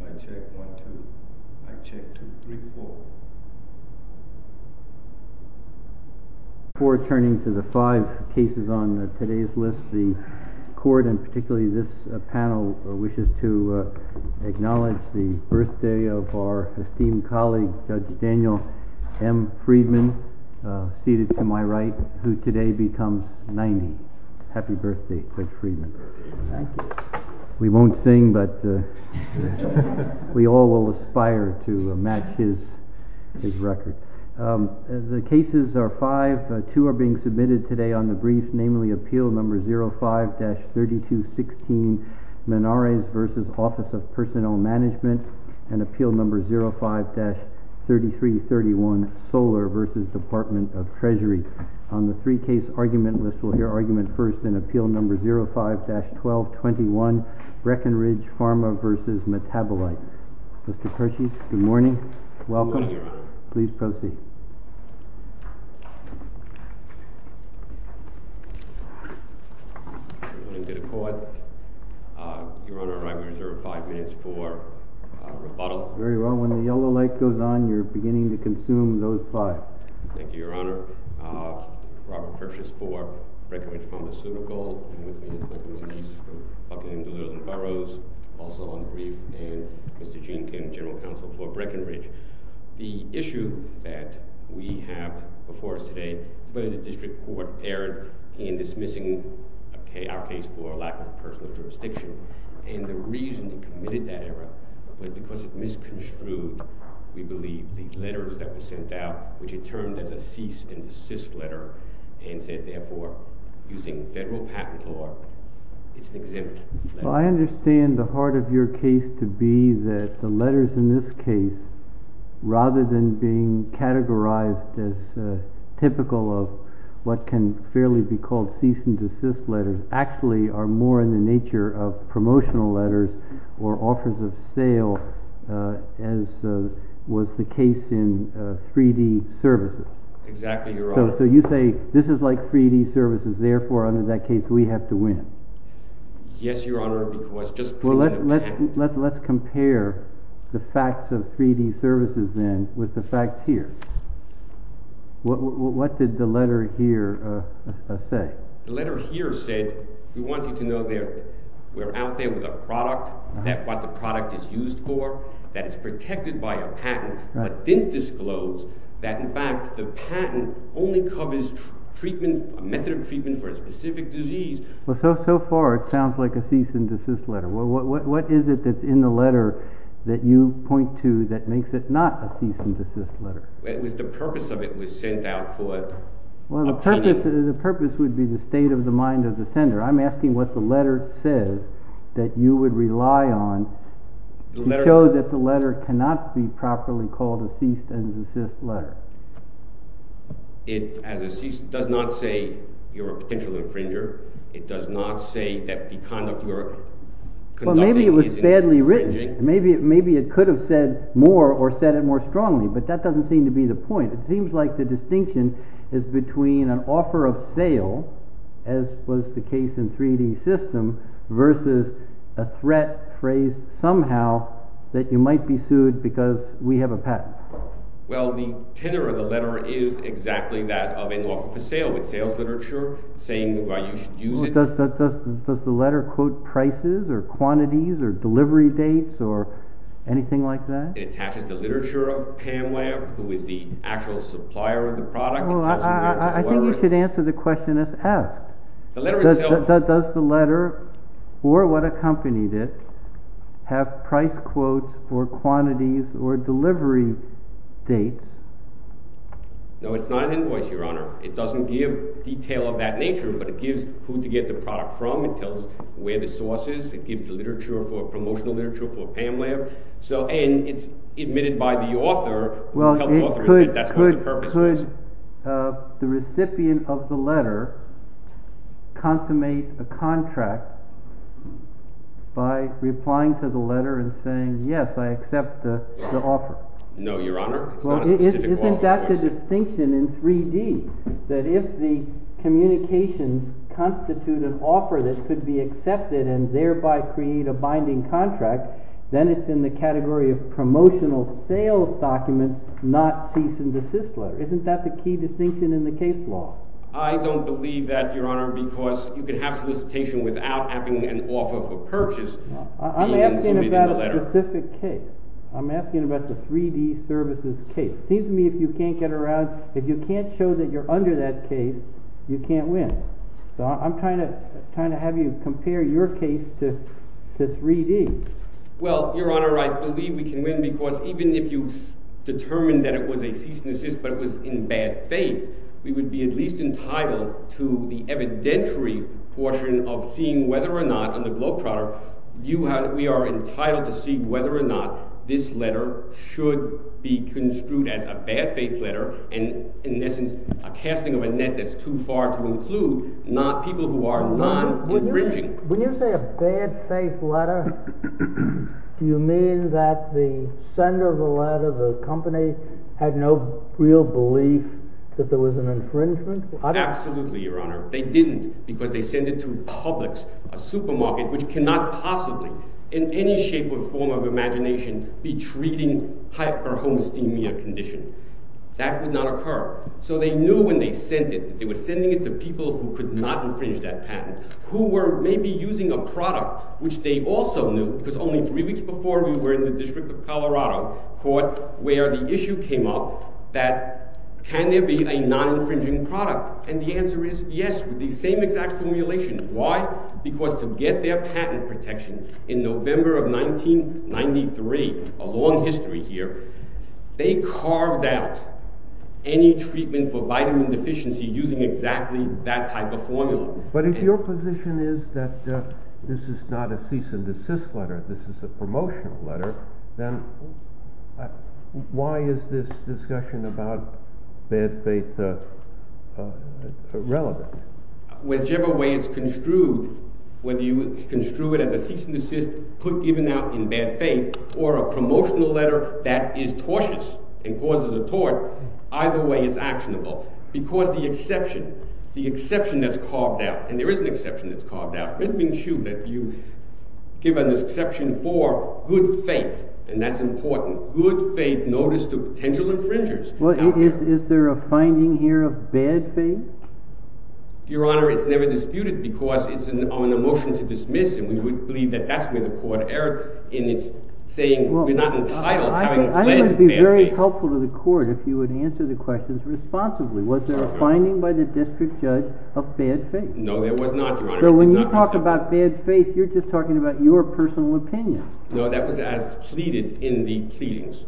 Mic check, one, two. Mic check, two, three, four. Before turning to the five cases on today's list, the court, and particularly this panel, wishes to acknowledge the birthday of our esteemed colleague, Judge Daniel M. Friedman, seated to my right, who today becomes 90. Happy birthday, Judge Friedman. We won't sing, but we all will aspire to match his record. The cases are five. Two are being submitted today on the brief, namely Appeal No. 05-3216, Menares v. Office of Personnel Management, and Appeal No. 05-3331, Solar v. Department of Treasury. On the three-case argument list, we'll hear argument first in Appeal No. 05-1221, BreckenRidge Pharma v. Metabolite. Mr. Pershy, good morning. Welcome. Good morning, Your Honor. Please proceed. Good morning to the court. Your Honor, I reserve five minutes for rebuttal. Very well. When the yellow light goes on, you're beginning to consume those five. Thank you, Your Honor. Robert Pershy is for BreckenRidge Pharmaceutical. And with me is my colleague Denise from Buckingham, Duluth, and Burroughs, also on the brief. And Mr. Gene Kim, General Counsel for BreckenRidge. The issue that we have before us today is whether the district court erred in dismissing our case for lack of personal jurisdiction. And the reason it committed that error was because it misconstrued, we believe, the letters that were sent out, which it termed as a cease-and-desist letter, and said, therefore, using federal patent law, it's exempt. Well, I understand the heart of your case to be that the letters in this case, rather than being categorized as typical of what can fairly be called cease-and-desist letters, actually are more in the nature of promotional letters or offers of sale, as was the case in 3D services. Exactly, Your Honor. So you say, this is like 3D services, therefore, under that case, we have to win. Yes, Your Honor, because just put it in the patent. Well, let's compare the facts of 3D services, then, with the facts here. What did the letter here say? The letter here said, we want you to know that we're out there with a product, what the product is used for, that it's protected by a patent, but didn't disclose that, in fact, the patent only covers a method of treatment for a specific disease. Well, so far, it sounds like a cease-and-desist letter. What is it that's in the letter that you point to that makes it not a cease-and-desist letter? It was the purpose of it was sent out for obtaining… Well, the purpose would be the state of the mind of the sender. I'm asking what the letter says that you would rely on to show that the letter cannot be properly called a cease-and-desist letter. It does not say you're a potential infringer. It does not say that the conduct you are conducting is infringing. Well, maybe it was badly written. Maybe it could have said more or said it more strongly, but that doesn't seem to be the point. It seems like the distinction is between an offer of sale, as was the case in 3D systems, versus a threat phrased somehow that you might be sued because we have a patent. Well, the tenor of the letter is exactly that of an offer for sale, with sales literature saying why you should use it. Does the letter quote prices or quantities or delivery dates or anything like that? It attaches the literature of Pam Webb, who is the actual supplier of the product. I think you should answer the question that's asked. Does the letter or what accompanied it have price quotes or quantities or delivery dates? No, it's not an invoice, Your Honor. It doesn't give detail of that nature, but it gives who to get the product from. It tells where the source is. It gives the promotional literature for Pam Webb. It's admitted by the author. Could the recipient of the letter consummate a contract by replying to the letter and saying, yes, I accept the offer? No, Your Honor. It's not a specific offer. Isn't that the distinction in 3D, that if the communications constitute an offer that could be accepted and thereby create a binding contract, then it's in the category of promotional sales documents, not cease and desist letter? Isn't that the key distinction in the case law? I don't believe that, Your Honor, because you can have solicitation without having an offer for purchase being included in the letter. I'm asking about the 3D services case. It seems to me if you can't get around, if you can't show that you're under that case, you can't win. So I'm trying to have you compare your case to 3D. Well, Your Honor, I believe we can win because even if you determined that it was a cease and desist, but it was in bad faith, we would be at least entitled to the evidentiary portion of seeing whether or not on the Globetrotter, we are entitled to see whether or not this letter should be construed as a bad faith letter, and in essence, a casting of a net that's too far to include, not people who are not infringing. When you say a bad faith letter, do you mean that the sender of the letter, the company, had no real belief that there was an infringement? Absolutely, Your Honor. They didn't because they sent it to Publix, a supermarket, which cannot possibly, in any shape or form of imagination, be treating hyper-homesthemia condition. That would not occur. So they knew when they sent it, they were sending it to people who could not infringe that patent, who were maybe using a product, which they also knew, because only three weeks before we were in the District of Colorado Court, where the issue came up that, can there be a non-infringing product? And the answer is yes, with the same exact formulation. Why? Because to get their patent protection in November of 1993, a long history here, they carved out any treatment for vitamin deficiency using exactly that type of formula. But if your position is that this is not a cease and desist letter, this is a promotional letter, then why is this discussion about bad faith relevant? Whichever way it's construed, whether you construe it as a cease and desist, put given out in bad faith, or a promotional letter that is tortious and causes a tort, either way it's actionable, because the exception, the exception that's carved out—and there is an exception that's carved out. Let me assume that you give an exception for good faith, and that's important. Good faith notice to potential infringers. Well, is there a finding here of bad faith? Your Honor, it's never disputed, because it's on a motion to dismiss, and we would believe that that's where the court erred in its saying we're not entitled to having a blend of bad faith. I would be very helpful to the court if you would answer the questions responsibly. Was there a finding by the district judge of bad faith? No, there was not, Your Honor. So when you talk about bad faith, you're just talking about your personal opinion. No, that was as pleaded in the pleadings.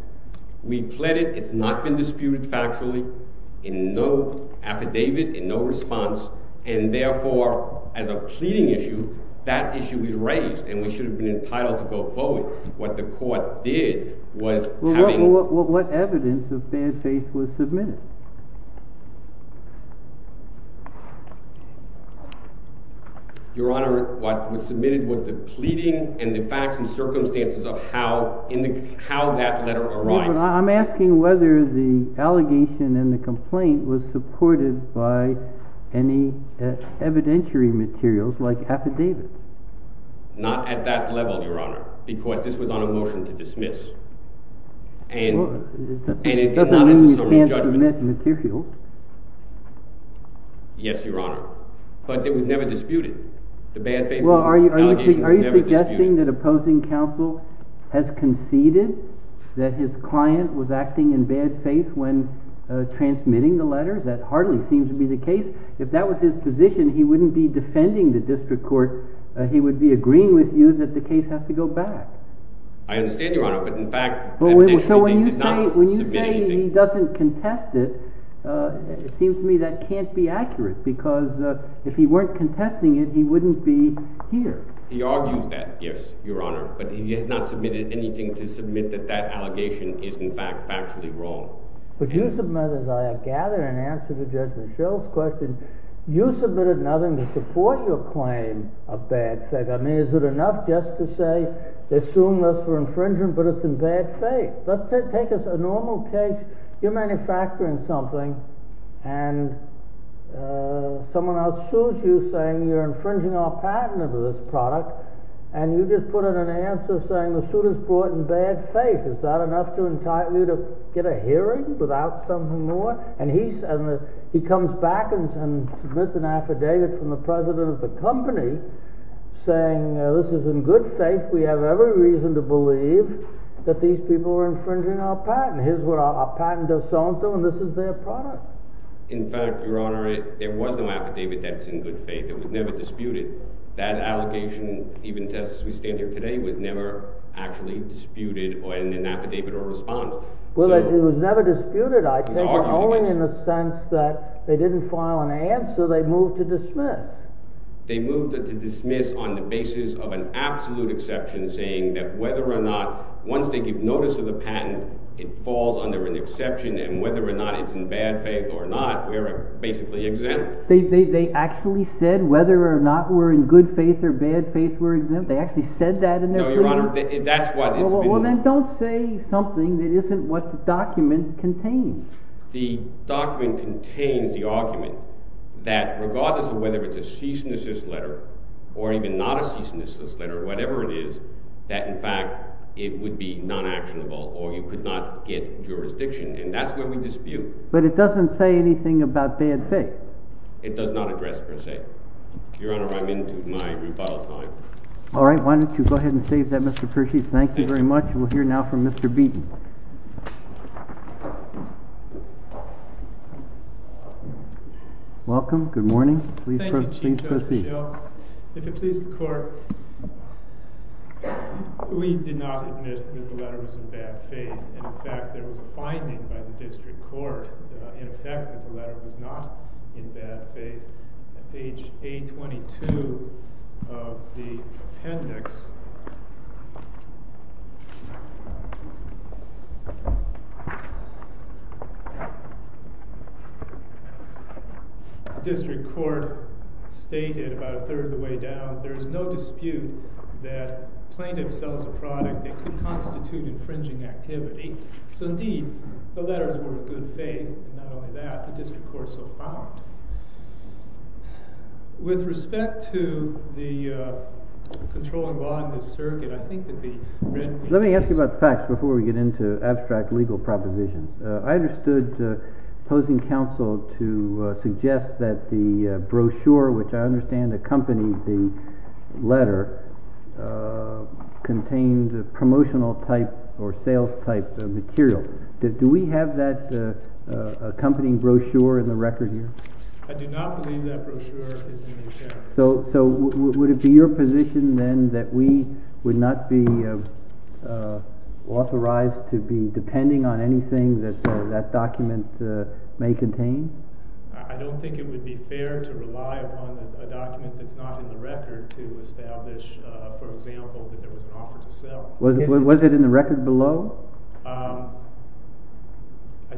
We pled it, it's not been disputed factually, in no affidavit, in no response, and therefore, as a pleading issue, that issue is raised, and we should have been entitled to go forward. What the court did was having— Well, what evidence of bad faith was submitted? Your Honor, what was submitted was the pleading and the facts and circumstances of how that letter arrived. I'm asking whether the allegation in the complaint was supported by any evidentiary materials, like affidavits. Not at that level, Your Honor, because this was on a motion to dismiss, and not as a summary judgment. Well, that doesn't mean we can't dismiss materials. Yes, Your Honor. But it was never disputed. The bad faith allegation was never disputed. Well, are you suggesting that opposing counsel has conceded that his client was acting in bad faith when transmitting the letter? That hardly seems to be the case. If that was his position, he wouldn't be defending the district court. He would be agreeing with you that the case has to go back. I understand, Your Honor, but in fact, evidentially, he did not submit anything. Well, maybe he doesn't contest it. It seems to me that can't be accurate, because if he weren't contesting it, he wouldn't be here. He argues that, yes, Your Honor, but he has not submitted anything to submit that that allegation is, in fact, factually wrong. But you submitted, as I gather in answer to Judge Michelle's question, you submitted nothing to support your claim of bad faith. I mean, is it enough just to say they're suing us for infringement, but it's in bad faith? Let's take a normal case. You're manufacturing something, and someone else sues you saying you're infringing our patent of this product. And you just put out an answer saying the suit is brought in bad faith. Is that enough to entice you to get a hearing without something more? And he comes back and submits an affidavit from the president of the company saying this is in good faith. We have every reason to believe that these people are infringing our patent. Here's what our patent does so-and-so, and this is their product. In fact, Your Honor, there was no affidavit that's in good faith. It was never disputed. That allegation, even test as we stand here today, was never actually disputed in an affidavit or response. Well, it was never disputed, I take it, only in the sense that they didn't file an answer. They moved to dismiss. They moved to dismiss on the basis of an absolute exception saying that whether or not, once they give notice of the patent, it falls under an exception. And whether or not it's in bad faith or not, we are basically exempt. They actually said whether or not we're in good faith or bad faith, we're exempt? They actually said that in their plea? No, Your Honor, that's what it's been— Well, then don't say something that isn't what the document contains. The document contains the argument that regardless of whether it's a ceaselessness letter or even not a ceaselessness letter, whatever it is, that in fact it would be non-actionable or you could not get jurisdiction. And that's what we dispute. But it doesn't say anything about bad faith. It does not address per se. Your Honor, I'm into my rebuttal time. All right. Why don't you go ahead and save that, Mr. Pershy. Thank you very much. We'll hear now from Mr. Beaton. Good morning. Please proceed. Thank you, Chief Judge Mischel. If it pleases the Court, we did not admit that the letter was in bad faith. In fact, there was a finding by the district court in effect that the letter was not in bad faith. At page 822 of the appendix, the district court stated about a third of the way down, there is no dispute that plaintiff sells a product that could constitute infringing activity. So indeed, the letters were of good faith. Not only that, the district court so found. With respect to the controlling law in this circuit, I think that the red piece is Let me ask you about the facts before we get into abstract legal proposition. I understood opposing counsel to suggest that the brochure, which I understand accompanied the letter, contained promotional type or sales type material. Do we have that accompanying brochure in the record here? I do not believe that brochure is in the account. So would it be your position then that we would not be authorized to be depending on anything that that document may contain? I don't think it would be fair to rely upon a document that's not in the record to establish, for example, that there was an offer to sell. Was it in the record below? I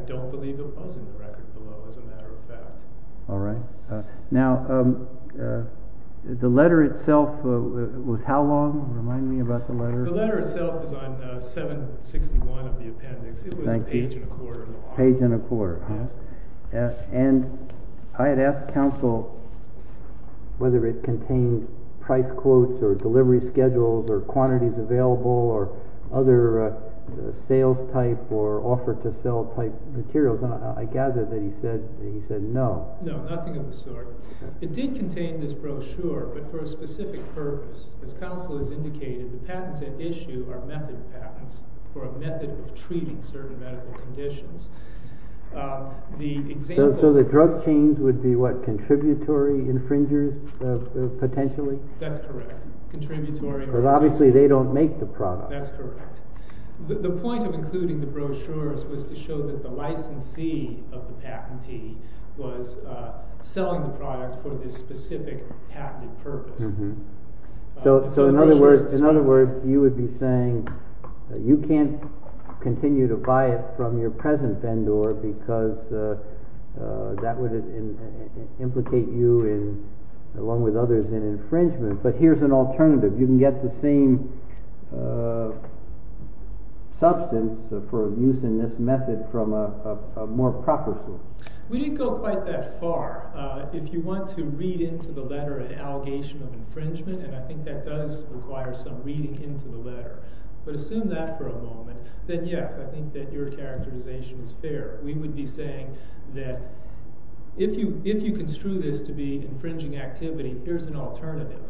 don't believe it was in the record below, as a matter of fact. All right. Now, the letter itself was how long? Remind me about the letter. The letter itself is on 761 of the appendix. It was a page and a quarter. Page and a quarter. Yes. And I had asked counsel whether it contained price quotes or delivery schedules or quantities available or other sales type or offer to sell type materials. And I gather that he said no. No, nothing of the sort. It did contain this brochure, but for a specific purpose. As counsel has indicated, the patents at issue are method patents for a method of treating certain medical conditions. So the drug chains would be what, contributory infringers potentially? That's correct. Contributory. But obviously they don't make the product. That's correct. The point of including the brochures was to show that the licensee of the patentee was selling the product for this specific patented purpose. So in other words, you would be saying you can't continue to buy it from your present vendor because that would implicate you, along with others, in infringement. But here's an alternative. You can get the same substance for use in this method from a more proper source. We didn't go quite that far. If you want to read into the letter an allegation of infringement, and I think that does require some reading into the letter, but assume that for a moment, then yes, I think that your characterization is fair. We would be saying that if you construe this to be infringing activity, here's an alternative.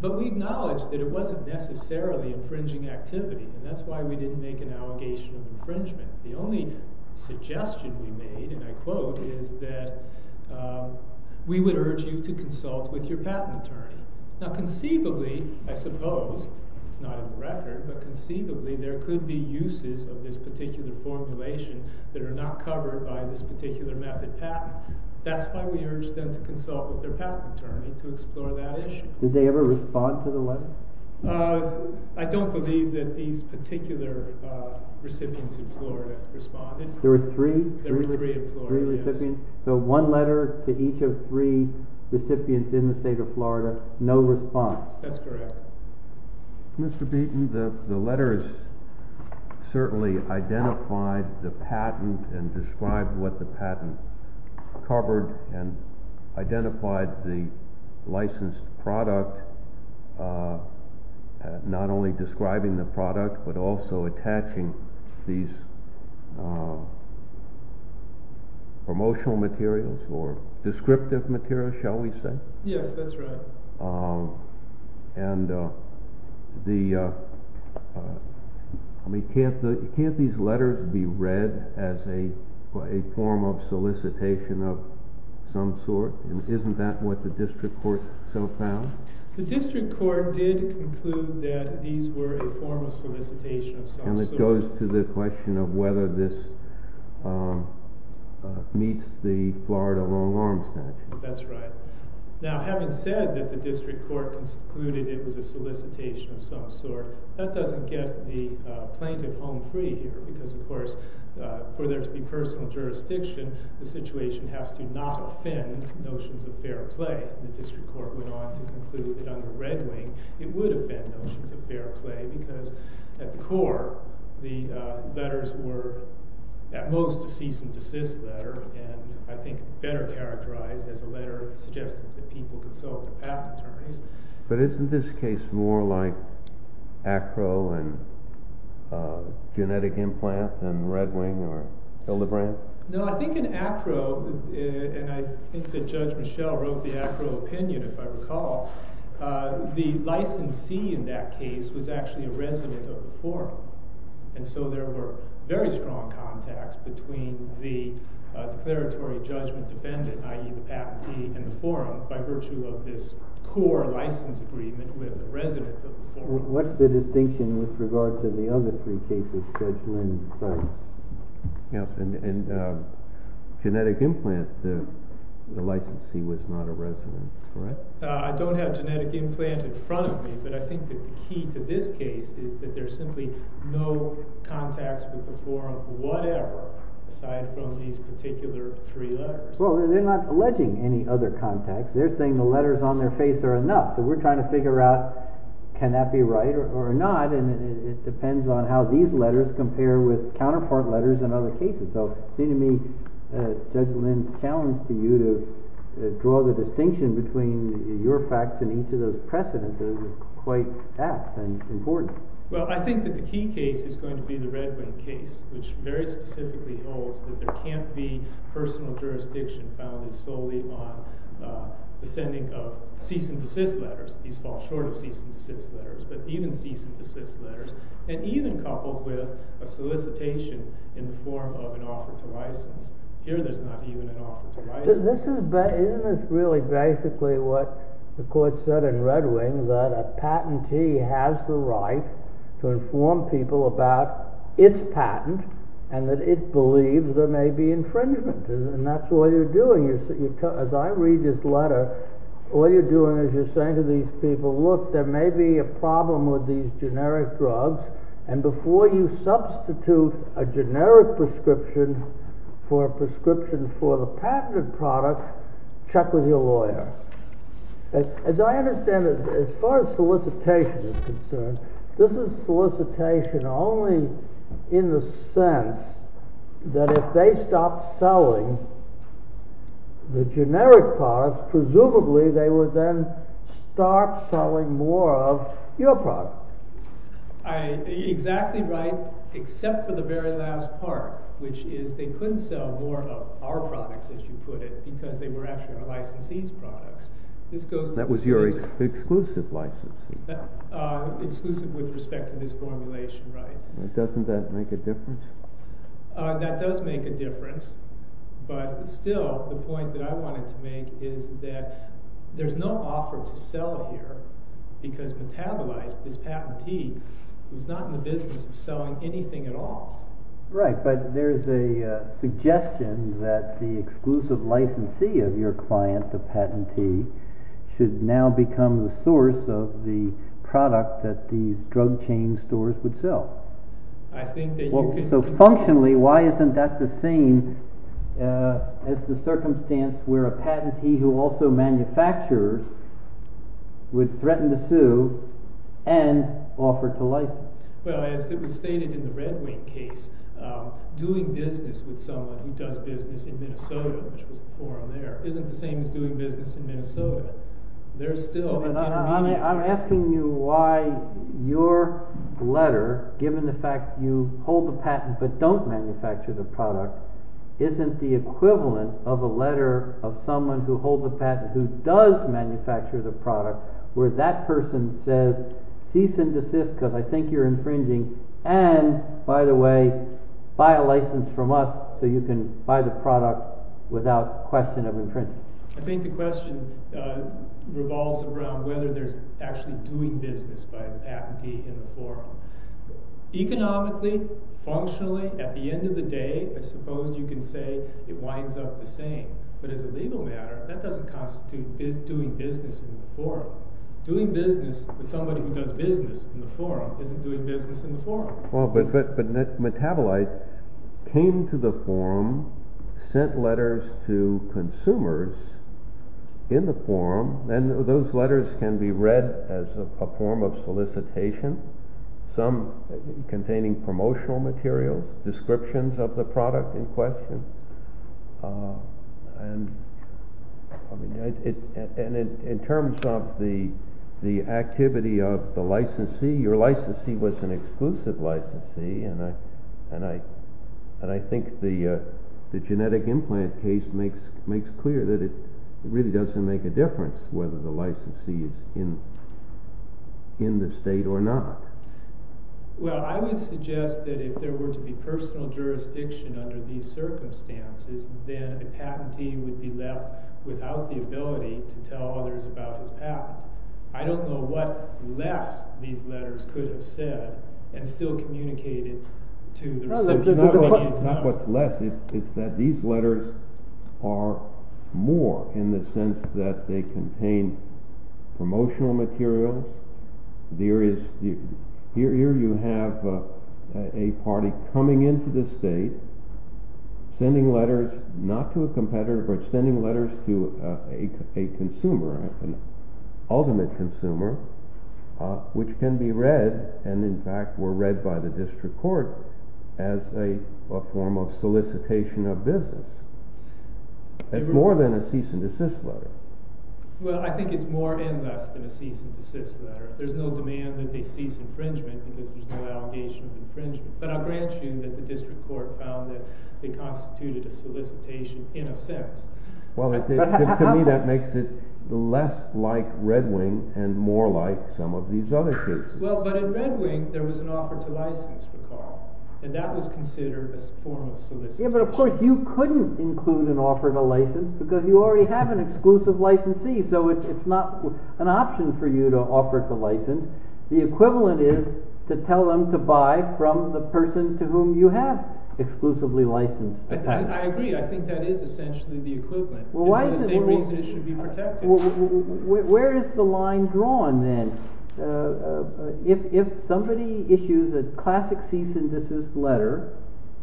But we acknowledge that it wasn't necessarily infringing activity, and that's why we didn't make an allegation of infringement. The only suggestion we made, and I quote, is that we would urge you to consult with your patent attorney. Now conceivably, I suppose, it's not in the record, but conceivably there could be uses of this particular formulation that are not covered by this particular method patent. That's why we urged them to consult with their patent attorney to explore that issue. I don't believe that these particular recipients in Florida responded. There were three? There were three in Florida. Three recipients. So one letter to each of three recipients in the state of Florida, no response. That's correct. Mr. Beaton, the letters certainly identified the patent and described what the patent covered and identified the licensed product, not only describing the product, but also attaching these promotional materials or descriptive materials, shall we say? Yes, that's right. And can't these letters be read as a form of solicitation of some sort? Isn't that what the district court so found? The district court did conclude that these were a form of solicitation of some sort. And it goes to the question of whether this meets the Florida long-arm statute. That's right. Now, having said that the district court concluded it was a solicitation of some sort, that doesn't get the plaintiff home free here because, of course, for there to be personal jurisdiction, the situation has to not offend notions of fair play. The district court went on to conclude that under Red Wing, it would offend notions of fair play because, at the core, the letters were, at most, a cease and desist letter. And I think better characterized as a letter suggesting that people consult with patent attorneys. But isn't this case more like ACRO and genetic implant than Red Wing or Hildebrandt? No, I think in ACRO, and I think that Judge Michelle wrote the ACRO opinion, if I recall, the licensee in that case was actually a resident of the forum. And so there were very strong contacts between the declaratory judgment defendant, i.e., the patentee, and the forum by virtue of this core license agreement with the resident of the forum. What's the distinction with regards to the other three cases, Judge Lynn? And genetic implant, the licensee was not a resident, correct? I don't have genetic implant in front of me, but I think the key to this case is that there's simply no contacts with the forum, whatever, aside from these particular three letters. Well, they're not alleging any other contacts. They're saying the letters on their face are enough. So we're trying to figure out can that be right or not, and it depends on how these letters compare with counterpart letters in other cases. So it seems to me Judge Lynn's challenge to you to draw the distinction between your facts and each of those precedents is quite apt and important. Well, I think that the key case is going to be the Red Wing case, which very specifically holds that there can't be personal jurisdiction founded solely on the sending of cease and desist letters. These fall short of cease and desist letters, but even cease and desist letters, and even coupled with a solicitation in the form of an offer to license. Here there's not even an offer to license. Isn't this really basically what the court said in Red Wing, that a patentee has the right to inform people about its patent and that it believes there may be infringement? And that's all you're doing. As I read this letter, all you're doing is you're saying to these people, look, there may be a problem with these generic drugs, and before you substitute a generic prescription for a prescription for the patented product, check with your lawyer. As I understand it, as far as solicitation is concerned, this is solicitation only in the sense that if they stopped selling the generic product, presumably they would then start selling more of your product. Exactly right, except for the very last part, which is they couldn't sell more of our products, as you put it, because they were actually our licensee's products. That was your exclusive licensee. Exclusive with respect to this formulation, right. Doesn't that make a difference? That does make a difference, but still, the point that I wanted to make is that there's no offer to sell here, because Metabolite, this patentee, was not in the business of selling anything at all. Right, but there's a suggestion that the exclusive licensee of your client, the patentee, should now become the source of the product that these drug chain stores would sell. So functionally, why isn't that the same as the circumstance where a patentee who also manufactures would threaten to sue and offer to license? Well, as it was stated in the Red Wing case, doing business with someone who does business in Minnesota, which was the forum there, isn't the same as doing business in Minnesota. I'm asking you why your letter, given the fact that you hold the patent but don't manufacture the product, isn't the equivalent of a letter of someone who holds a patent who does manufacture the product, where that person says, cease and desist, because I think you're infringing, and, by the way, buy a license from us so you can buy the product without question of infringement. I think the question revolves around whether there's actually doing business by a patentee in the forum. Economically, functionally, at the end of the day, I suppose you can say it winds up the same. But as a legal matter, that doesn't constitute doing business in the forum. Doing business with somebody who does business in the forum isn't doing business in the forum. But Metabolite came to the forum, sent letters to consumers in the forum, and those letters can be read as a form of solicitation, some containing promotional material, descriptions of the product in question. And in terms of the activity of the licensee, your licensee was an exclusive licensee, and I think the genetic implant case makes clear that it really doesn't make a difference whether the licensee is in the state or not. Well, I would suggest that if there were to be personal jurisdiction under these circumstances, then a patentee would be left without the ability to tell others about his patent. I don't know what less these letters could have said and still communicated to the recipient. It's not what's less. It's that these letters are more in the sense that they contain promotional material. Here you have a party coming into the state, sending letters not to a competitor, but sending letters to a consumer, an ultimate consumer, which can be read, and in fact were read by the district court as a form of solicitation of business. It's more than a cease and desist letter. Well, I think it's more and less than a cease and desist letter. There's no demand that they cease infringement because there's no allegation of infringement. But I'll grant you that the district court found that they constituted a solicitation in a sense. Well, to me that makes it less like Red Wing and more like some of these other cases. Well, but in Red Wing there was an offer to license for Carl, and that was considered a form of solicitation. Yeah, but of course you couldn't include an offer to license because you already have an exclusive licensee, so it's not an option for you to offer to license. The equivalent is to tell them to buy from the person to whom you have exclusively licensed. I agree. I think that is essentially the equivalent. Well, why is it— And for the same reason it should be protected. Where is the line drawn then? If somebody issues a classic cease and desist letter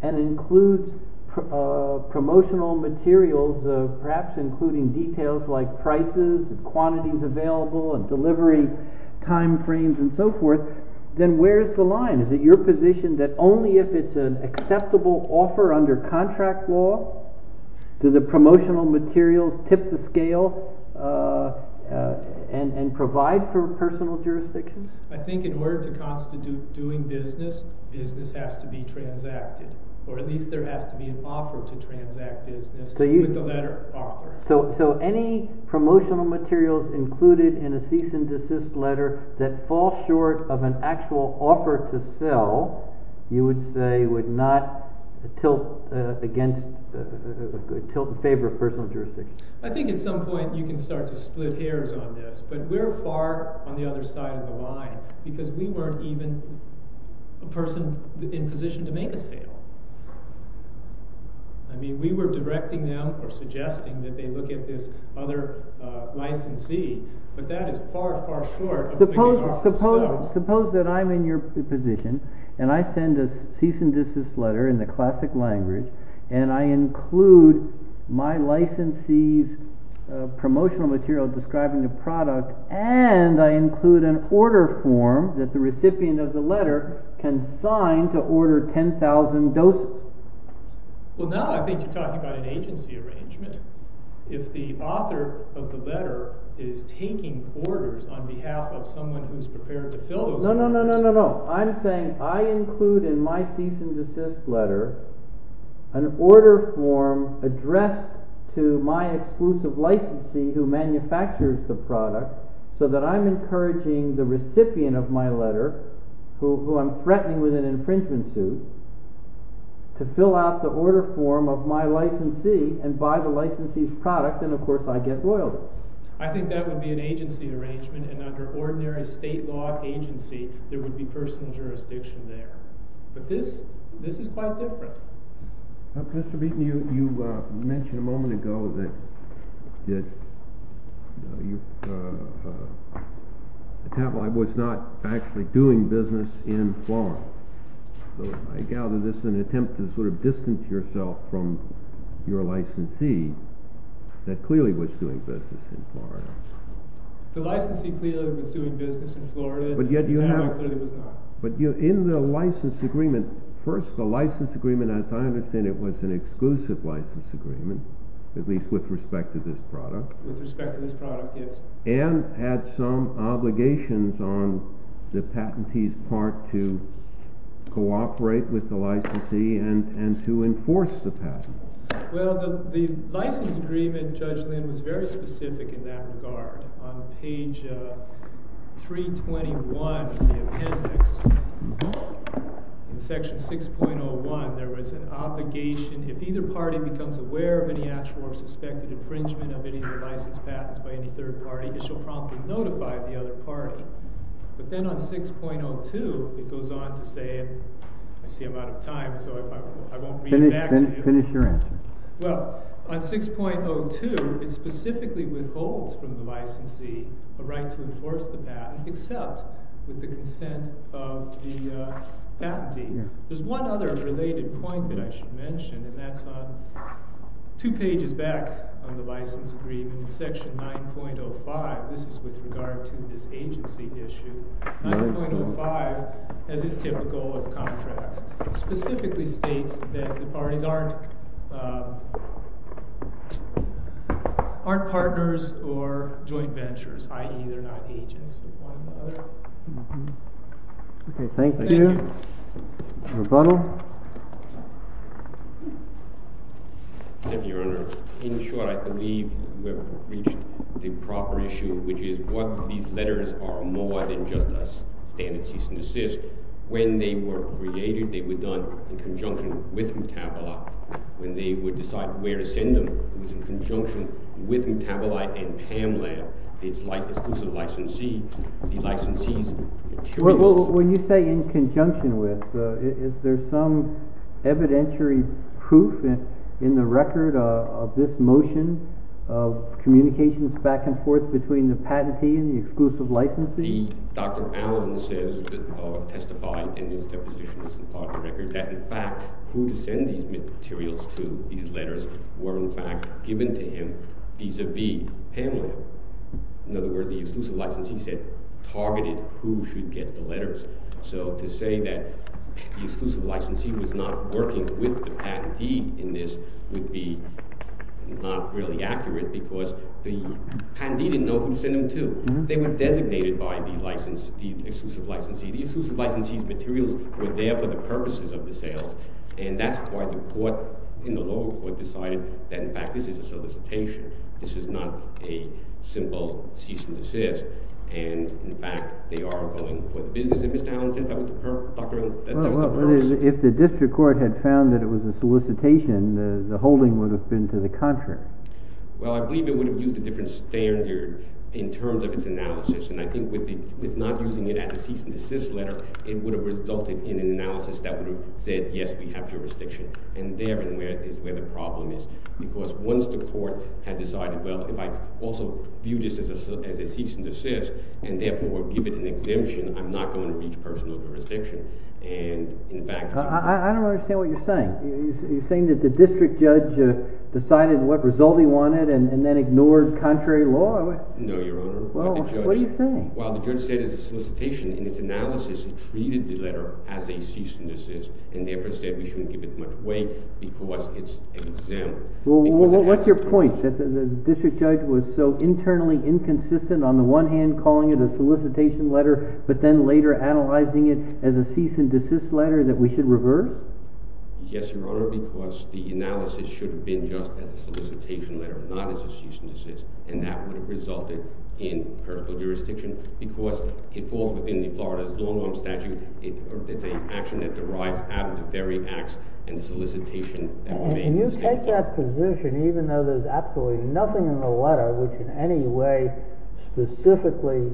and includes promotional materials, perhaps including details like prices, quantities available, and delivery timeframes and so forth, then where is the line? Is it your position that only if it's an acceptable offer under contract law do the promotional materials tip the scale and provide for personal jurisdiction? I think in order to constitute doing business, business has to be transacted, or at least there has to be an offer to transact business with the letter author. So any promotional materials included in a cease and desist letter that fall short of an actual offer to sell, you would say would not tilt in favor of personal jurisdiction. I think at some point you can start to split hairs on this, but we're far on the other side of the line because we weren't even a person in position to make a sale. I mean, we were directing them or suggesting that they look at this other licensee, but that is far, far short of making an offer to sell. Suppose that I'm in your position, and I send a cease and desist letter in the classic language, and I include my licensee's promotional material describing the product, and I include an order form that the recipient of the letter can sign to order 10,000 doses. Well, now I think you're talking about an agency arrangement. If the author of the letter is taking orders on behalf of someone who's prepared to fill those orders— —to fill out the order form of my licensee and buy the licensee's product, then of course I get loyalty. I think that would be an agency arrangement, and under ordinary state law agency, there would be personal jurisdiction there. But this is quite different. Mr. Beaton, you mentioned a moment ago that Tavalli was not actually doing business in Florida. So I gather this is an attempt to sort of distance yourself from your licensee that clearly was doing business in Florida. The licensee clearly was doing business in Florida. But yet you have— Tavalli clearly was not. But in the license agreement—first, the license agreement, as I understand it, was an exclusive license agreement, at least with respect to this product. With respect to this product, yes. And had some obligations on the patentee's part to cooperate with the licensee and to enforce the patent. Well, the license agreement, Judge Lynn, was very specific in that regard. On page 321 of the appendix, in section 6.01, there was an obligation. If either party becomes aware of any actual or suspected infringement of any of the license patents by any third party, it shall promptly notify the other party. But then on 6.02, it goes on to say—I see I'm out of time, so I won't read it back to you. Finish your answer. Well, on 6.02, it specifically withholds from the licensee a right to enforce the patent except with the consent of the patentee. There's one other related point that I should mention, and that's on two pages back on the license agreement, in section 9.05. This is with regard to this agency issue. 9.05, as is typical of contracts, specifically states that the parties aren't partners or joint ventures, i.e., they're not agents of one another. Okay, thank you. Thank you. Rebuttal? Your Honor, in short, I believe we've reached the proper issue, which is what these letters are more than just a standard cease and desist. When they were created, they were done in conjunction with Metabolite. When they were decided where to send them, it was in conjunction with Metabolite and PAMLAB, the exclusive licensee, the licensee's materials. Well, when you say in conjunction with, is there some evidentiary proof in the record of this motion of communications back and forth between the patentee and the exclusive licensee? Dr. Allen says, testified in his depositions and part of the record, that, in fact, who to send these materials to, these letters, were, in fact, given to him vis-a-vis PAMLAB. In other words, the exclusive licensee said targeted who should get the letters. So to say that the exclusive licensee was not working with the patentee in this would be not really accurate because the patentee didn't know who to send them to. They were designated by the exclusive licensee. The exclusive licensee's materials were there for the purposes of the sales. And that's why the court in the lower court decided that, in fact, this is a solicitation. This is not a simple cease and desist. And, in fact, they are going for the business. And Mr. Allen said that was the purpose. If the district court had found that it was a solicitation, the holding would have been to the contrary. Well, I believe it would have used a different standard in terms of its analysis. And I think with not using it as a cease and desist letter, it would have resulted in an analysis that would have said, yes, we have jurisdiction. And therein is where the problem is because once the court had decided, well, if I also view this as a cease and desist and, therefore, give it an exemption, I'm not going to reach personal jurisdiction. I don't understand what you're saying. You're saying that the district judge decided what result he wanted and then ignored contrary law? No, Your Honor. What are you saying? Well, the judge said it's a solicitation. In its analysis, it treated the letter as a cease and desist. And therefore, it said we shouldn't give it much weight because it's an exemption. Well, what's your point? That the district judge was so internally inconsistent on the one hand, calling it a solicitation letter, but then later analyzing it as a cease and desist letter that we should reverse? Yes, Your Honor, because the analysis should have been just as a solicitation letter, not as a cease and desist. And that would have resulted in critical jurisdiction because it falls within the Florida's long-arm statute. It's an action that derives out of the very acts and solicitation that were made in the statute. Can you take that position, even though there's absolutely nothing in the letter which in any way specifically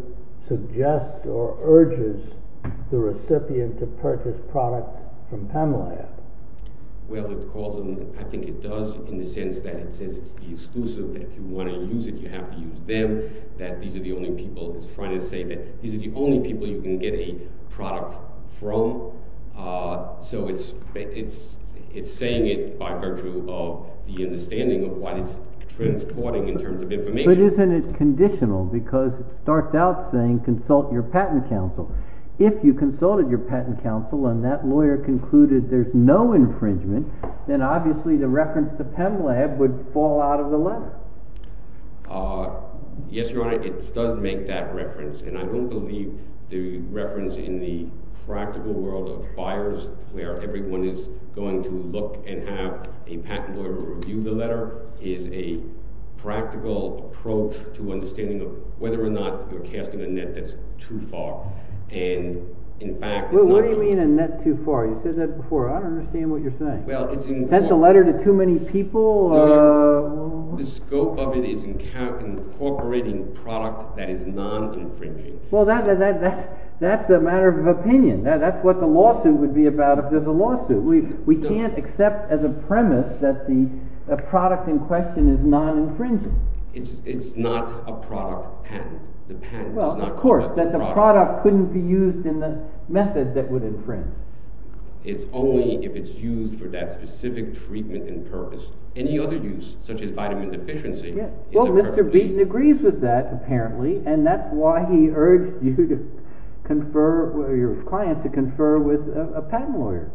suggests or urges the recipient to purchase products from PEMLAB? Well, I think it does in the sense that it says it's the exclusive, that if you want to use it, you have to use them, that these are the only people. It's trying to say that these are the only people you can get a product from. So it's saying it by virtue of the understanding of what it's transporting in terms of information. But isn't it conditional? Because it starts out saying, consult your patent counsel. If you consulted your patent counsel and that lawyer concluded there's no infringement, then obviously the reference to PEMLAB would fall out of the letter. Yes, Your Honor, it does make that reference. And I don't believe the reference in the practical world of buyers where everyone is going to look and have a patent lawyer review the letter is a practical approach to understanding whether or not you're casting a net that's too far. And in fact, it's not true. What do you mean a net too far? You said that before. I don't understand what you're saying. Is that a letter to too many people? The scope of it is incorporating product that is non-infringing. Well, that's a matter of opinion. That's what the lawsuit would be about if there's a lawsuit. We can't accept as a premise that the product in question is non-infringing. It's not a product patent. Well, of course, that the product couldn't be used in the method that would infringe. It's only if it's used for that specific treatment and purpose. Any other use, such as vitamin deficiency. Well, Mr. Beaton agrees with that, apparently. And that's why he urged you to confer, your client to confer with a patent lawyer.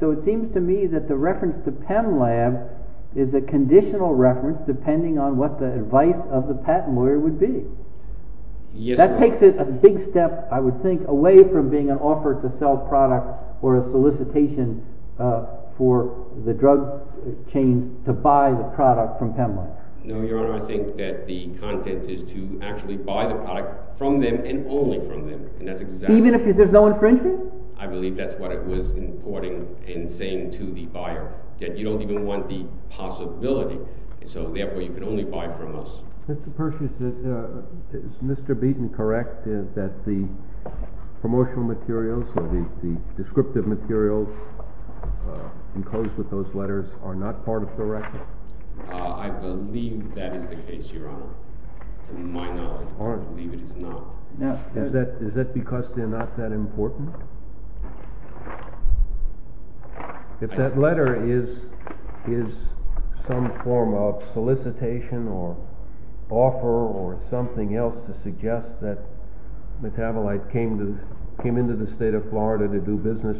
So it seems to me that the reference to PEMLAB is a conditional reference depending on what the advice of the patent lawyer would be. That takes it a big step, I would think, away from being an offer to sell product or a solicitation for the drug chain to buy the product from PEMLAB. No, Your Honor. I think that the content is to actually buy the product from them and only from them. Even if there's no infringement? I believe that's what it was importing and saying to the buyer that you don't even want the possibility. So, therefore, you can only buy from us. Mr. Pershing, is Mr. Beaton correct that the promotional materials or the descriptive materials enclosed with those letters are not part of the record? I believe that is the case, Your Honor. To my knowledge, I believe it is not. Is that because they're not that important? If that letter is some form of solicitation or offer or something else to suggest that Metabolite came into the state of Florida to do business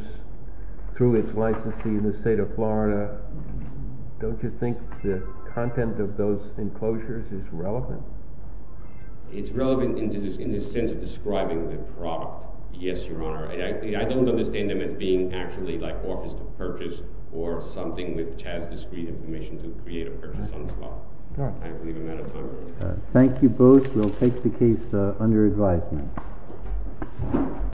through its licensee in the state of Florida, don't you think the content of those enclosures is relevant? It's relevant in the sense of describing the product. Yes, Your Honor. I don't understand them as being actually like offers to purchase or something which has discrete information to create a purchase on the spot. I believe I'm out of time. Thank you both. We'll take the case under advisement.